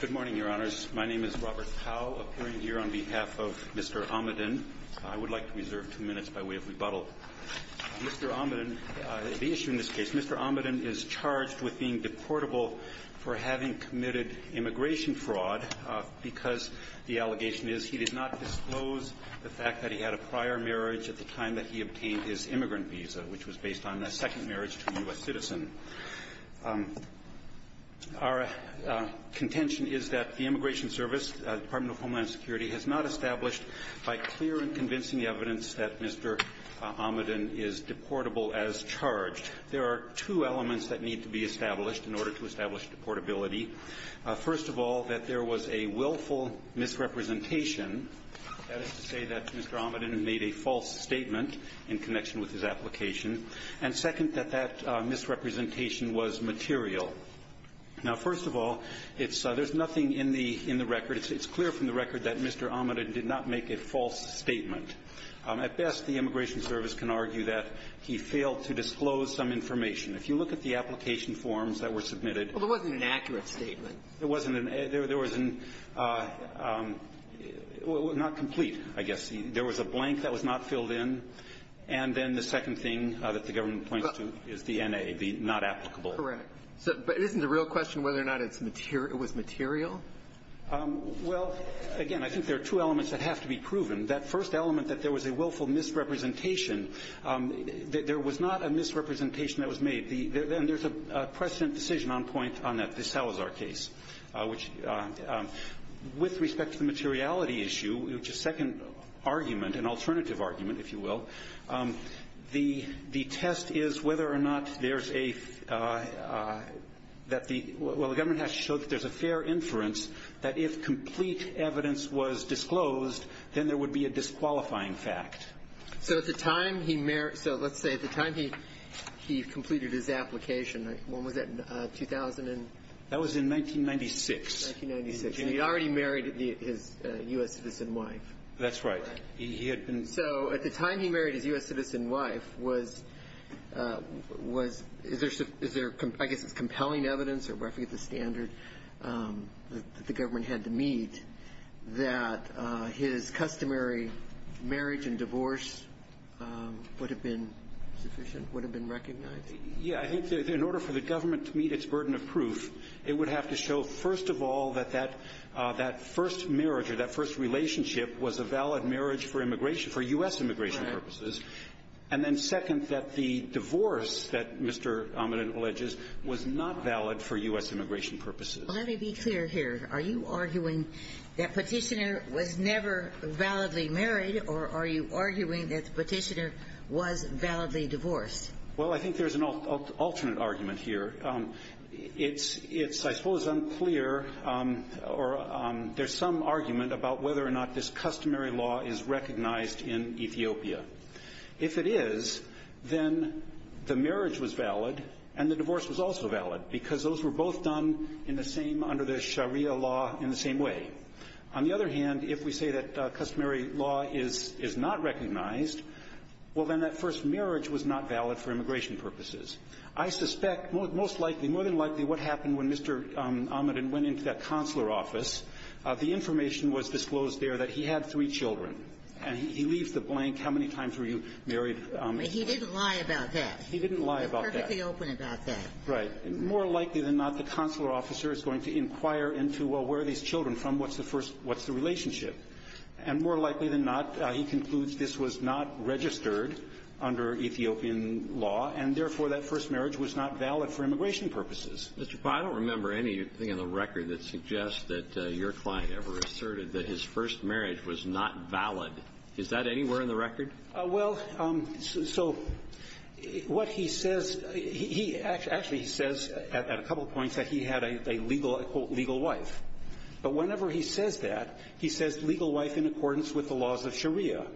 Good morning, Your Honors. My name is Robert Powell, appearing here on behalf of Mr. Amedin. I would like to reserve two minutes by way of rebuttal. Mr. Amedin, the issue in this case, Mr. Amedin is charged with being deportable for having committed immigration fraud because the allegation is he did not disclose the fact that he had a prior marriage at the time that he obtained his immigrant visa, which was based on a second marriage to a U.S. citizen. Our contention is that the Immigration Service, the Department of Homeland Security, has not established by clear and convincing evidence that Mr. Amedin is deportable as charged. There are two elements that need to be established in order to establish deportability. First of all, that there was a willful misrepresentation. That is to say, the second, that that misrepresentation was material. Now, first of all, it's so there's nothing in the record. It's clear from the record that Mr. Amedin did not make a false statement. At best, the Immigration Service can argue that he failed to disclose some information. If you look at the application forms that were submitted ---- Well, there wasn't an accurate statement. There wasn't an ---- there was an ---- not complete, I guess. There was a blank that was not filled in. And then the second thing that the government points to is the N.A., the not applicable. Correct. But isn't the real question whether or not it was material? Well, again, I think there are two elements that have to be proven. That first element, that there was a willful misrepresentation, that there was not a misrepresentation that was made. And there's a precedent decision on point on the Salazar case, which with respect to the materiality issue, which is a second argument, an alternative argument, if you will, the test is whether or not there's a ---- that the ---- well, the government has to show that there's a fair inference that if complete evidence was disclosed, then there would be a disqualifying fact. So at the time he merit ---- so let's say at the time he completed his application, when was that, 2000 and ---- That was in 1996. 1996. And he'd already married his U.S. citizen wife. That's right. He had been ---- So at the time he married his U.S. citizen wife, was ---- was ---- is there ---- I guess it's compelling evidence or roughly at the standard that the government had to meet that his customary marriage and divorce would have been sufficient, would have been recognized? Yeah. I think in order for the government to meet its burden of proof, it would have to show, first of all, that that first marriage or that first relationship was a valid marriage for immigration ---- for U.S. immigration purposes, and then second, that the divorce that Mr. Ahmed alleges was not valid for U.S. immigration purposes. Well, let me be clear here. Are you arguing that Petitioner was never validly married, or are you arguing that Petitioner was validly divorced? Well, I think there's an alternate argument here. It's ---- I suppose it's unclear or there's some argument about whether or not this customary law is recognized in Ethiopia. If it is, then the marriage was valid and the divorce was also valid, because those were both done in the same ---- under the Sharia law in the same way. On the other hand, if we say that customary law is not recognized, well, then that first marriage was not valid for immigration purposes. I suspect most likely, more than likely, what happened when Mr. Ahmed went into that consular office, the information was disclosed there that he had three children. And he leaves the blank, how many times were you married? He didn't lie about that. He didn't lie about that. He was perfectly open about that. Right. More likely than not, the consular officer is going to inquire into, well, where are these children from? What's the first ---- what's the relationship? And more likely than not, he concludes this was not registered under Ethiopian law, and, therefore, that first marriage was not valid for immigration purposes. Mr. Powell, I don't remember anything in the record that suggests that your client ever asserted that his first marriage was not valid. Is that anywhere in the record? Well, so what he says, he actually says at a couple of points that he had a legal wife. But whenever he says that, he says legal wife in accordance with the laws of Sharia.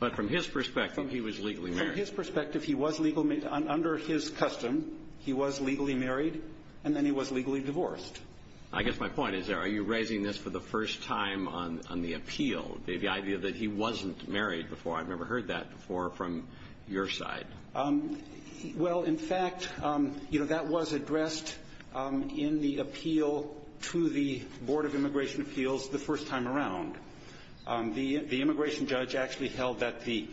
But from his perspective, he was legally married. From his perspective, he was legally ---- under his custom, he was legally married, and then he was legally divorced. I guess my point is, are you raising this for the first time on the appeal, the idea that he wasn't married before? I've never heard that before from your side. Well, in fact, you know, that was addressed in the appeal to the Board of Immigration Appeals the first time around. The immigration judge actually held that the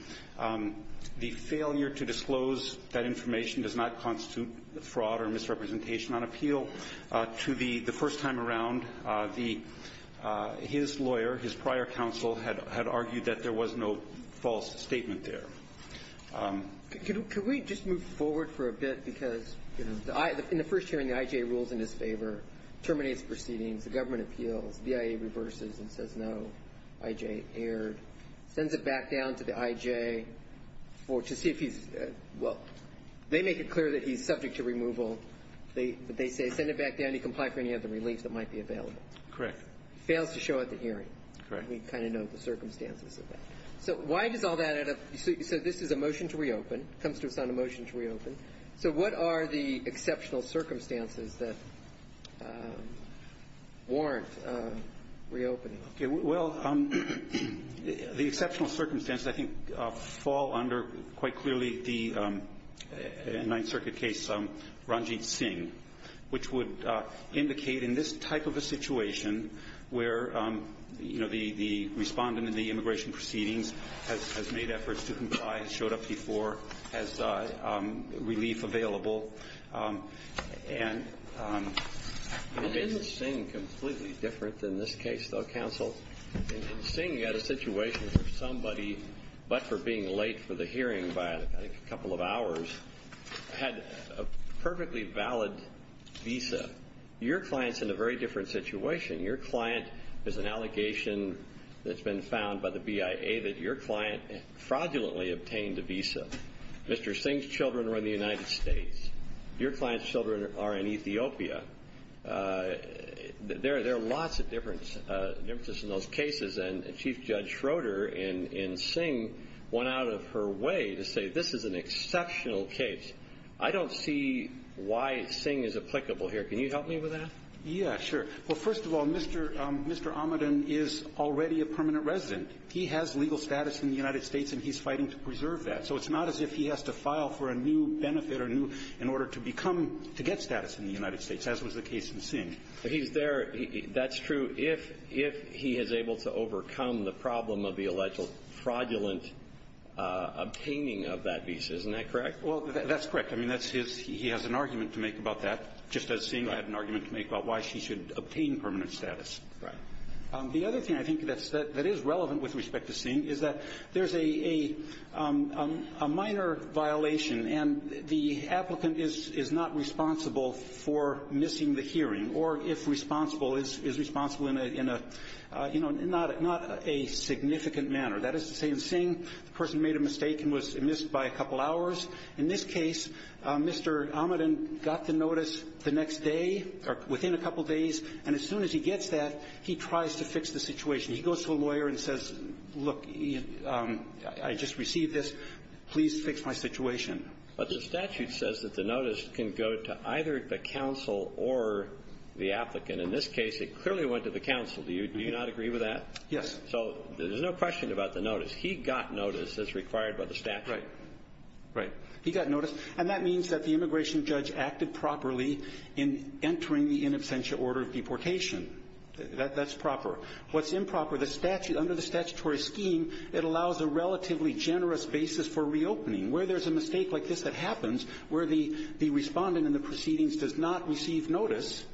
failure to disclose that information does not constitute fraud or misrepresentation on appeal. To the first time around, his lawyer, his prior counsel, had argued that there was no false statement there. Could we just move forward for a bit? Because, you know, in the first hearing, the IJ rules in his favor, terminates proceedings, the government appeals, the BIA reverses and says no, IJ erred, sends it back down to the IJ to see if he's ---- well, they make it clear that he's subject to removal, but they say send it back down, he complied for any other relief that might be available. Correct. Fails to show at the hearing. Correct. We kind of know the circumstances of that. So why does all that end up ---- so this is a motion to reopen. It comes to us on a motion to reopen. So what are the exceptional circumstances that warrant reopening? Okay. Well, the exceptional circumstances, I think, fall under quite clearly the Ninth Circuit case, Ranjit Singh, which would indicate in this type of a situation where, you know, the respondent in the immigration proceedings has made efforts to comply, showed up before, has relief available, and ---- Ranjit Singh, completely different in this case, though, counsel. Singh had a situation where somebody, but for being late for the hearing by a couple of hours, had a perfectly valid visa. Your client is in a very different situation. Your client is an allegation that's been found by the BIA that your client fraudulently obtained a visa. Mr. Singh's children are in the United States. Your client's children are in Ethiopia. There are lots of differences in those cases, and Chief Judge Schroeder in Singh went out of her way to say this is an exceptional case. I don't see why Singh is applicable here. Can you help me with that? Yeah, sure. Well, first of all, Mr. Amadan is already a permanent resident. He has legal status in the United States, and he's fighting to preserve that. So it's not as if he has to file for a new benefit or new ---- in order to become ---- to get status in the United States, as was the case in Singh. He's there. That's true. If he is able to overcome the problem of the alleged fraudulent obtaining of that visa, isn't that correct? Well, that's correct. I mean, that's his ---- he has an argument to make about that, just as Singh had an argument to make about why she should obtain permanent status. Right. The other thing I think that is relevant with respect to Singh is that there's a minor violation, and the applicant is not responsible for missing the hearing or, if responsible, is responsible in a, you know, not a significant manner. That is to say, in Singh, the person made a mistake and was missed by a couple hours. In this case, Mr. Ahmedan got the notice the next day or within a couple days, and as soon as he gets that, he tries to fix the situation. He goes to a lawyer and says, look, I just received this. Please fix my situation. But the statute says that the notice can go to either the counsel or the applicant. In this case, it clearly went to the counsel. Do you not agree with that? Yes. So there's no question about the notice. He got notice as required by the statute. Right. He got notice. And that means that the immigration judge acted properly in entering the in absentia order of deportation. That's proper. What's improper, the statute, under the statutory scheme, it allows a relatively generous basis for reopening. Where there's a mistake like this that happens, where the Respondent in the proceedings does not receive notice,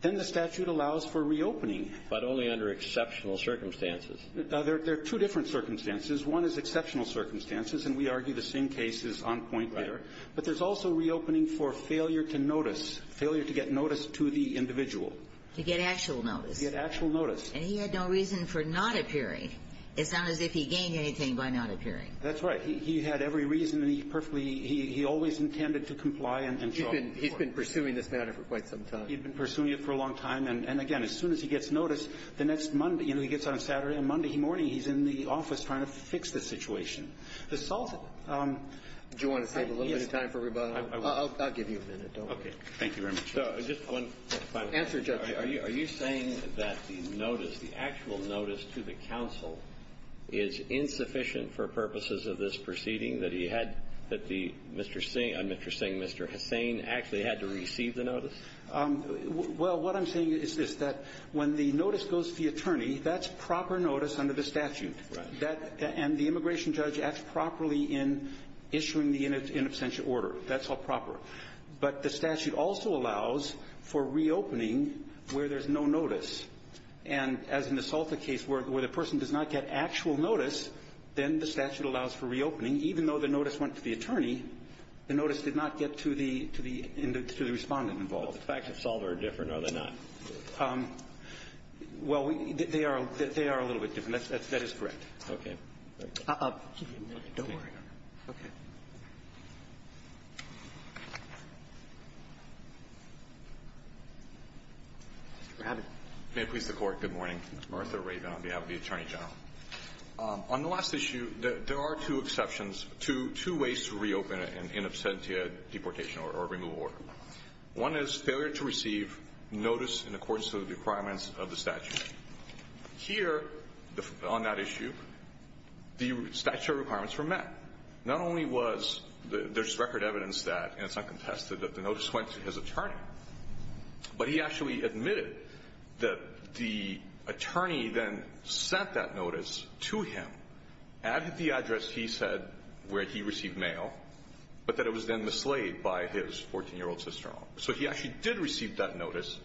then the statute allows for reopening. But only under exceptional circumstances. There are two different circumstances. One is exceptional circumstances, and we argue the same case is on point there. Right. But there's also reopening for failure to notice, failure to get notice to the individual. To get actual notice. To get actual notice. And he had no reason for not appearing. It sounded as if he gained anything by not appearing. That's right. He had every reason, and he perfectly he always intended to comply and so forth. He's been pursuing this matter for quite some time. He's been pursuing it for a long time. And again, as soon as he gets notice, the next Monday, you know, he gets on Saturday and Monday morning, he's in the office trying to fix the situation. The Solson --- Do you want to save a little bit of time for everybody? I'll give you a minute. Okay. Thank you very much. Just one final question. Answer, Judge. Are you saying that the notice, the actual notice to the counsel is insufficient for purposes of this proceeding, that he had, that the Mr. Singh, Mr. Singh, Mr. Hussain actually had to receive the notice? Well, what I'm saying is this, that when the notice goes to the attorney, that's proper notice under the statute. And the immigration judge acts properly in issuing the in absentia order. That's all proper. But the statute also allows for reopening where there's no notice. And as in the Salta case where the person does not get actual notice, then the statute allows for reopening, even though the notice went to the attorney, the notice did not get to the respondent involved. But the facts of Salta are different, are they not? Well, they are a little bit different. That is correct. Okay. Thank you. I'll give you a minute. Don't worry. Okay. Mr. Rabin. May it please the Court. Good morning. Martha Rabin on behalf of the Attorney General. On the last issue, there are two exceptions, two ways to reopen an in absentia deportation or removal order. One is failure to receive notice in accordance to the requirements of the statute. Here, on that issue, the statute requirements were met. Not only was there's record evidence that, and it's not contested, that the notice went to his attorney, but he actually admitted that the attorney then sent that notice to him at the address he said where he received mail, but that it was then mislaid by his 14-year-old sister-in-law. So he actually did receive that notice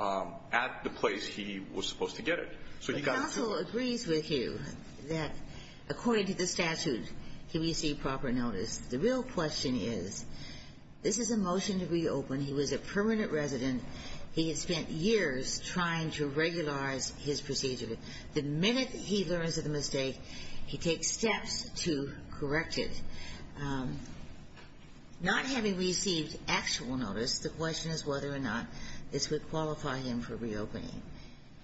at the place he was supposed to get it. So he got it through. The counsel agrees with you that, according to the statute, he received proper notice. The real question is, this is a motion to reopen. He was a permanent resident. He had spent years trying to regularize his procedure. The minute he learns of the mistake, he takes steps to correct it, not having received actual notice. The question is whether or not this would qualify him for reopening.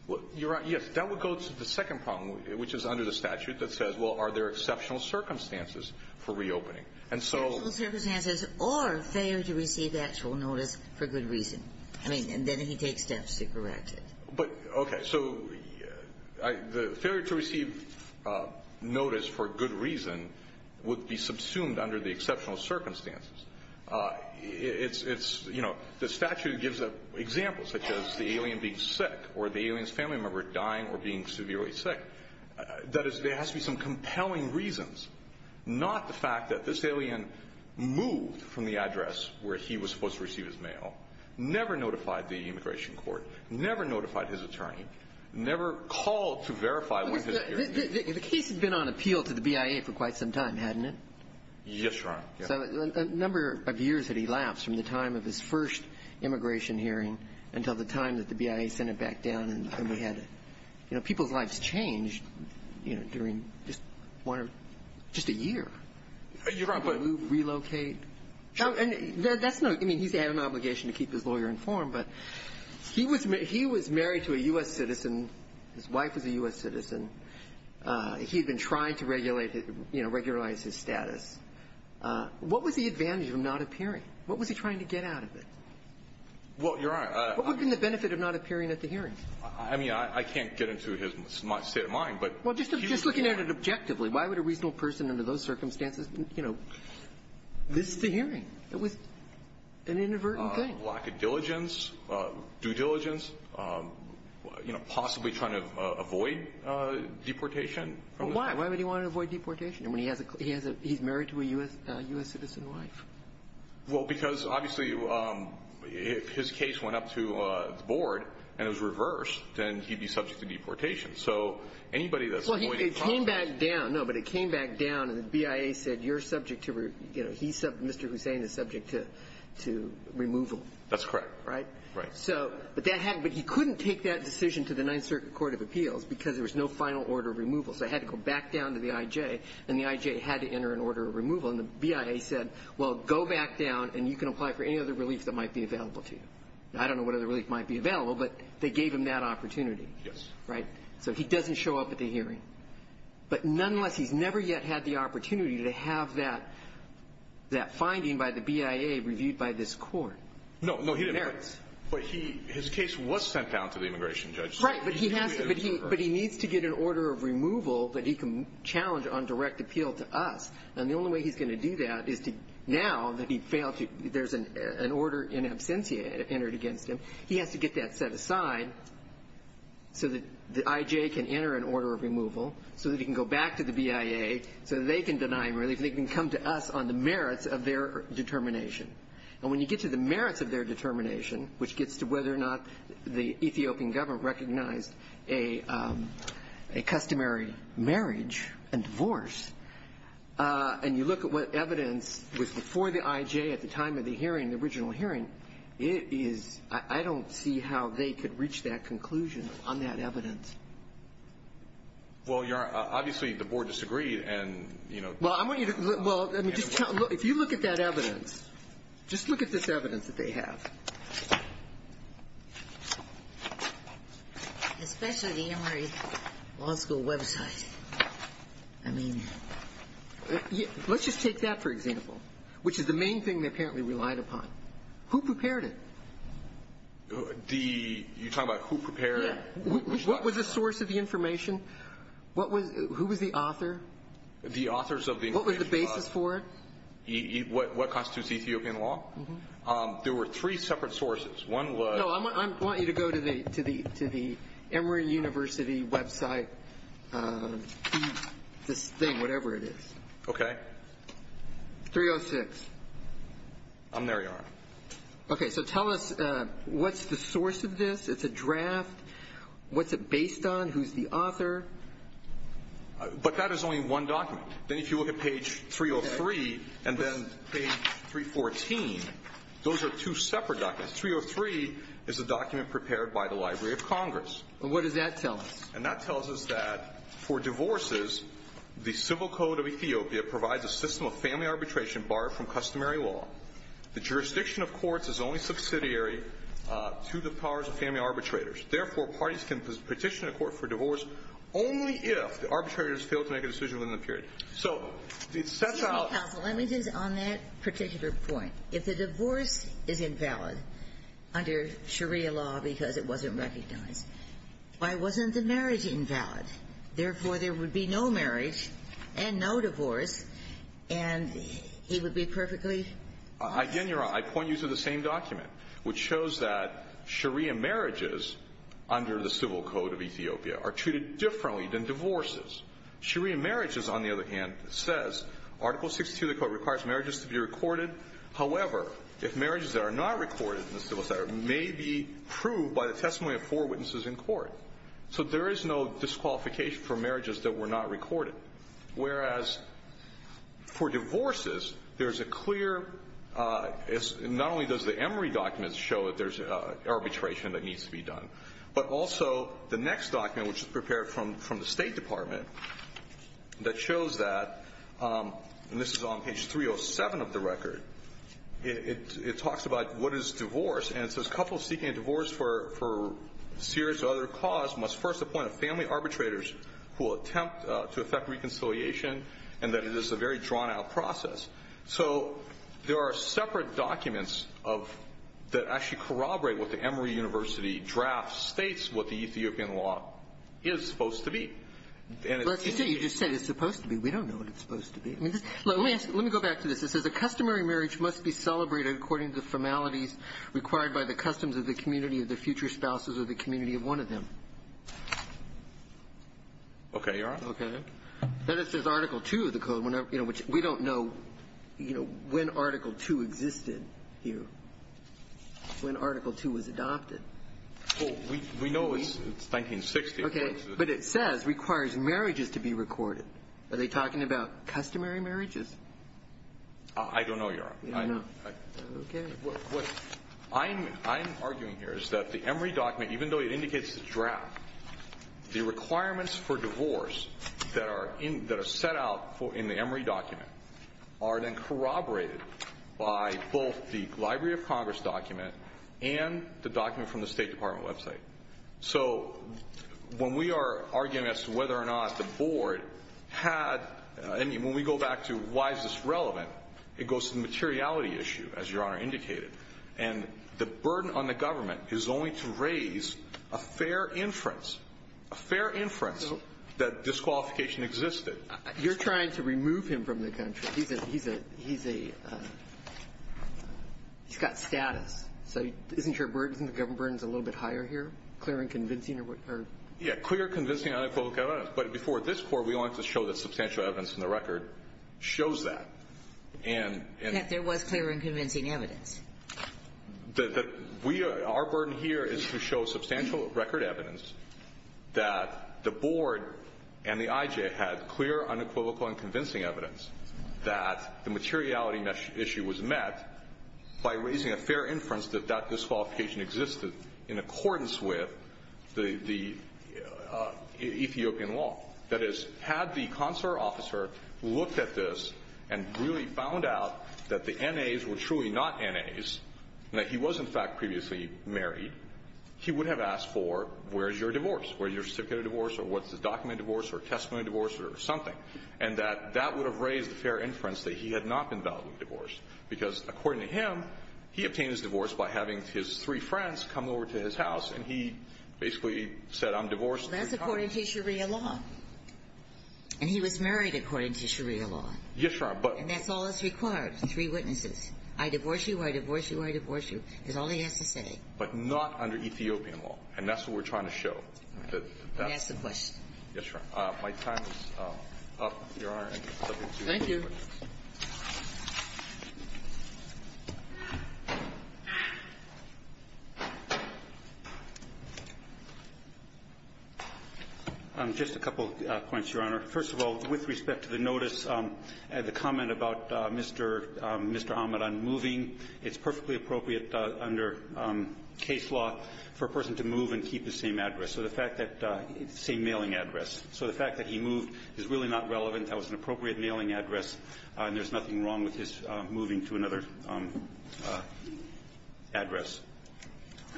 Well, you're right. Yes. That would go to the second problem, which is under the statute, that says, well, are there exceptional circumstances for reopening? And so — Exceptional circumstances or failure to receive actual notice for good reason. I mean, and then he takes steps to correct it. But, okay, so the failure to receive notice for good reason would be subsumed under the exceptional circumstances. It's, you know, the statute gives an example, such as the alien being sick or the alien's family member dying or being severely sick. That is, there has to be some compelling reasons, not the fact that this alien moved from the address where he was supposed to receive his mail, never notified the immigration court, never notified his attorney, never called to verify what his — The case had been on appeal to the BIA for quite some time, hadn't it? Yes, Your Honor. So a number of years had elapsed from the time of his first immigration hearing until the time that the BIA sent it back down and we had — you know, people's lives changed, you know, during just one or — just a year. You're right, but — Relocate. And that's not — I mean, he's had an obligation to keep his lawyer informed, but he was married to a U.S. citizen, his wife was a U.S. citizen. He had been trying to regulate his — you know, regularize his status. What was the advantage of him not appearing? What was he trying to get out of it? Well, Your Honor — What would have been the benefit of not appearing at the hearing? I mean, I can't get into his set of mind, but — Well, just looking at it objectively, why would a reasonable person under those conditions miss the hearing? It was an inadvertent thing. Lack of diligence, due diligence, you know, possibly trying to avoid deportation. Why? Why would he want to avoid deportation when he has a — he's married to a U.S. citizen wife? Well, because, obviously, if his case went up to the board and it was reversed, then he'd be subject to deportation. So anybody that's — Well, it came back down — no, but it came back down and the BIA said, you're subject to — you know, he's — Mr. Hussain is subject to removal. That's correct. Right? Right. So — but that had — but he couldn't take that decision to the Ninth Circuit court of appeals because there was no final order of removal. So it had to go back down to the IJ, and the IJ had to enter an order of removal. And the BIA said, well, go back down and you can apply for any other relief that might be available to you. I don't know what other relief might be available, but they gave him that opportunity. Right? So he doesn't show up at the hearing. But nonetheless, he's never yet had the opportunity to have that — that finding by the BIA reviewed by this court. No, no, he didn't. It merits. But he — his case was sent down to the immigration judge. Right, but he has to — but he needs to get an order of removal that he can challenge on direct appeal to us. And the only way he's going to do that is to — now that he failed to — there's an order in absentia entered against him. He has to get that set aside so that the IJ can enter an order of removal, so that he can go back to the BIA, so that they can deny him relief, and they can come to us on the merits of their determination. And when you get to the merits of their determination, which gets to whether or not the Ethiopian government recognized a — a customary marriage and divorce, and you look at what evidence was before the IJ at the time of the hearing, the original hearing, it is — I don't see how they could reach that conclusion on that evidence. Well, Your Honor, obviously the board disagreed, and, you know — Well, I want you to — well, let me just tell — if you look at that evidence, just look at this evidence that they have. Especially the Emory Law School website. I mean — Let's just take that for example, which is the main thing they apparently relied upon. Who prepared it? The — you're talking about who prepared it? Yeah. What was the source of the information? What was — who was the author? The authors of the — What was the basis for it? What constitutes Ethiopian law? Mm-hmm. There were three separate sources. One was — No, I want you to go to the Emory University website, this thing, whatever it is. Okay. 306. I'm there, Your Honor. Okay. So tell us, what's the source of this? It's a draft. What's it based on? Who's the author? But that is only one document. Then if you look at page 303 and then page 314, those are two separate documents. 303 is a document prepared by the Library of Congress. And what does that tell us? And that tells us that for divorces, the civil code of Ethiopia provides a system of family arbitration barred from customary law. The jurisdiction of courts is only subsidiary to the powers of family arbitrators. Therefore, parties can petition a court for divorce only if the arbitrators fail to make a decision within the period. So it sets out — Counsel, let me just on that particular point. If the divorce is invalid under Sharia law because it wasn't recognized, why wasn't the marriage invalid? Therefore, there would be no marriage and no divorce, and he would be perfectly — Again, Your Honor, I point you to the same document, which shows that Sharia marriages under the civil code of Ethiopia are treated differently than divorces. Sharia marriages, on the other hand, says Article 62 of the Code requires marriages to be recorded. However, if marriages that are not recorded in the civil statute may be proved by the testimony of four witnesses in court. So there is no disqualification for marriages that were not recorded. Whereas for divorces, there's a clear — not only does the Emory document show that there's arbitration that needs to be done, but also the next document, which is prepared from the State Department, that shows that — and this is on page 307 of the record. It talks about what is divorce, and it says, Couples seeking a divorce for serious or other cause must first appoint a family arbitrators who will attempt to effect reconciliation, and that it is a very drawn-out process. So there are separate documents of — that actually corroborate what the Emory University draft states what the Ethiopian law is supposed to be. And it's — Well, as you say, you just said it's supposed to be. We don't know what it's supposed to be. Let me go back to this. It says a customary marriage must be celebrated according to the formalities required by the customs of the community of the future spouses or the community of one of them. Okay, Your Honor. Okay. Then it says Article II of the code, which we don't know, you know, when Article II existed here, when Article II was adopted. Well, we know it's 1960. Okay. But it says requires marriages to be recorded. Are they talking about customary marriages? I don't know, Your Honor. You don't know. Okay. What I'm arguing here is that the Emory document, even though it indicates the draft, the requirements for divorce that are set out in the Emory document are then corroborated by both the Library of Congress document and the document from the State Department website. So when we are arguing as to whether or not the Board had any, when we go back to why is this relevant, it goes to the materiality issue, as Your Honor indicated. And the burden on the government is only to raise a fair inference, a fair inference that disqualification existed. You're trying to remove him from the country. He's a, he's a, he's got status. So isn't your burden, the government burden, a little bit higher here? Clear and convincing? Yeah, clear, convincing, unequivocal evidence. But before this Court, we wanted to show that substantial evidence in the record shows that. That there was clear and convincing evidence. That we, our burden here is to show substantial record evidence that the Board and the IJ had clear, unequivocal, and convincing evidence that the materiality issue was met by raising a fair inference that that disqualification existed in accordance with the Ethiopian law. That is, had the consular officer looked at this and really found out that the N.A.s were truly not N.A.s, that he was, in fact, previously married, he would have asked for, where's your divorce? Where's your certificate of divorce? Or what's the document of divorce? Or testimony of divorce? Or something. And that, that would have raised a fair inference that he had not been validly divorced. Because according to him, he obtained his divorce by having his three friends come over to his house. And he basically said, I'm divorced. Well, that's according to Sharia law. And he was married according to Sharia law. Yes, Your Honor. And that's all that's required, three witnesses. I divorce you, I divorce you, I divorce you, is all he has to say. But not under Ethiopian law. And that's what we're trying to show. And that's the question. Yes, Your Honor. My time is up, Your Honor. Thank you. Thank you. Just a couple of points, Your Honor. First of all, with respect to the notice and the comment about Mr. Ahmed on moving, it's perfectly appropriate under case law for a person to move and keep the same address. So the fact that the same mailing address. So the fact that he moved is really not relevant. That was an appropriate mailing address. And there's nothing wrong with his moving to another address.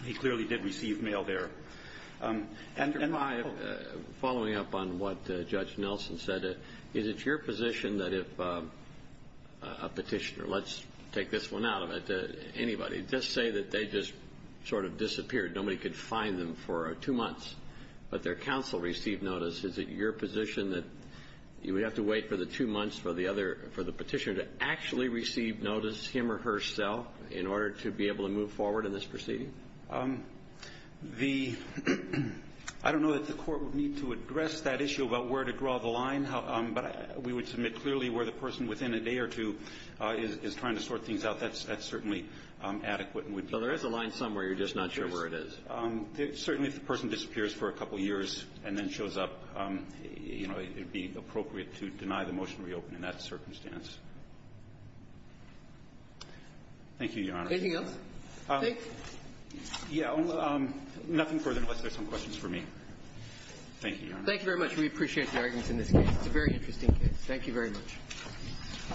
He clearly did receive mail there. And my own. Following up on what Judge Nelson said, is it your position that if a petitioner, let's take this one out of it, anybody, just say that they just sort of disappeared, nobody could find them for two months, but their counsel received notice, is it your position that you would have to wait for the two months for the petitioner to actually receive notice, him or herself, in order to be able to move forward in this proceeding? I don't know that the Court would need to address that issue about where to draw the line. But we would submit clearly where the person within a day or two is trying to sort things out. That's certainly adequate. So there is a line somewhere. You're just not sure where it is. But certainly if the person disappears for a couple years and then shows up, you know, it would be appropriate to deny the motion to reopen in that circumstance. Thank you, Your Honor. Anything else? Yeah. Nothing further unless there's some questions for me. Thank you, Your Honor. Thank you very much. We appreciate the arguments in this case. It's a very interesting case. Thank you very much.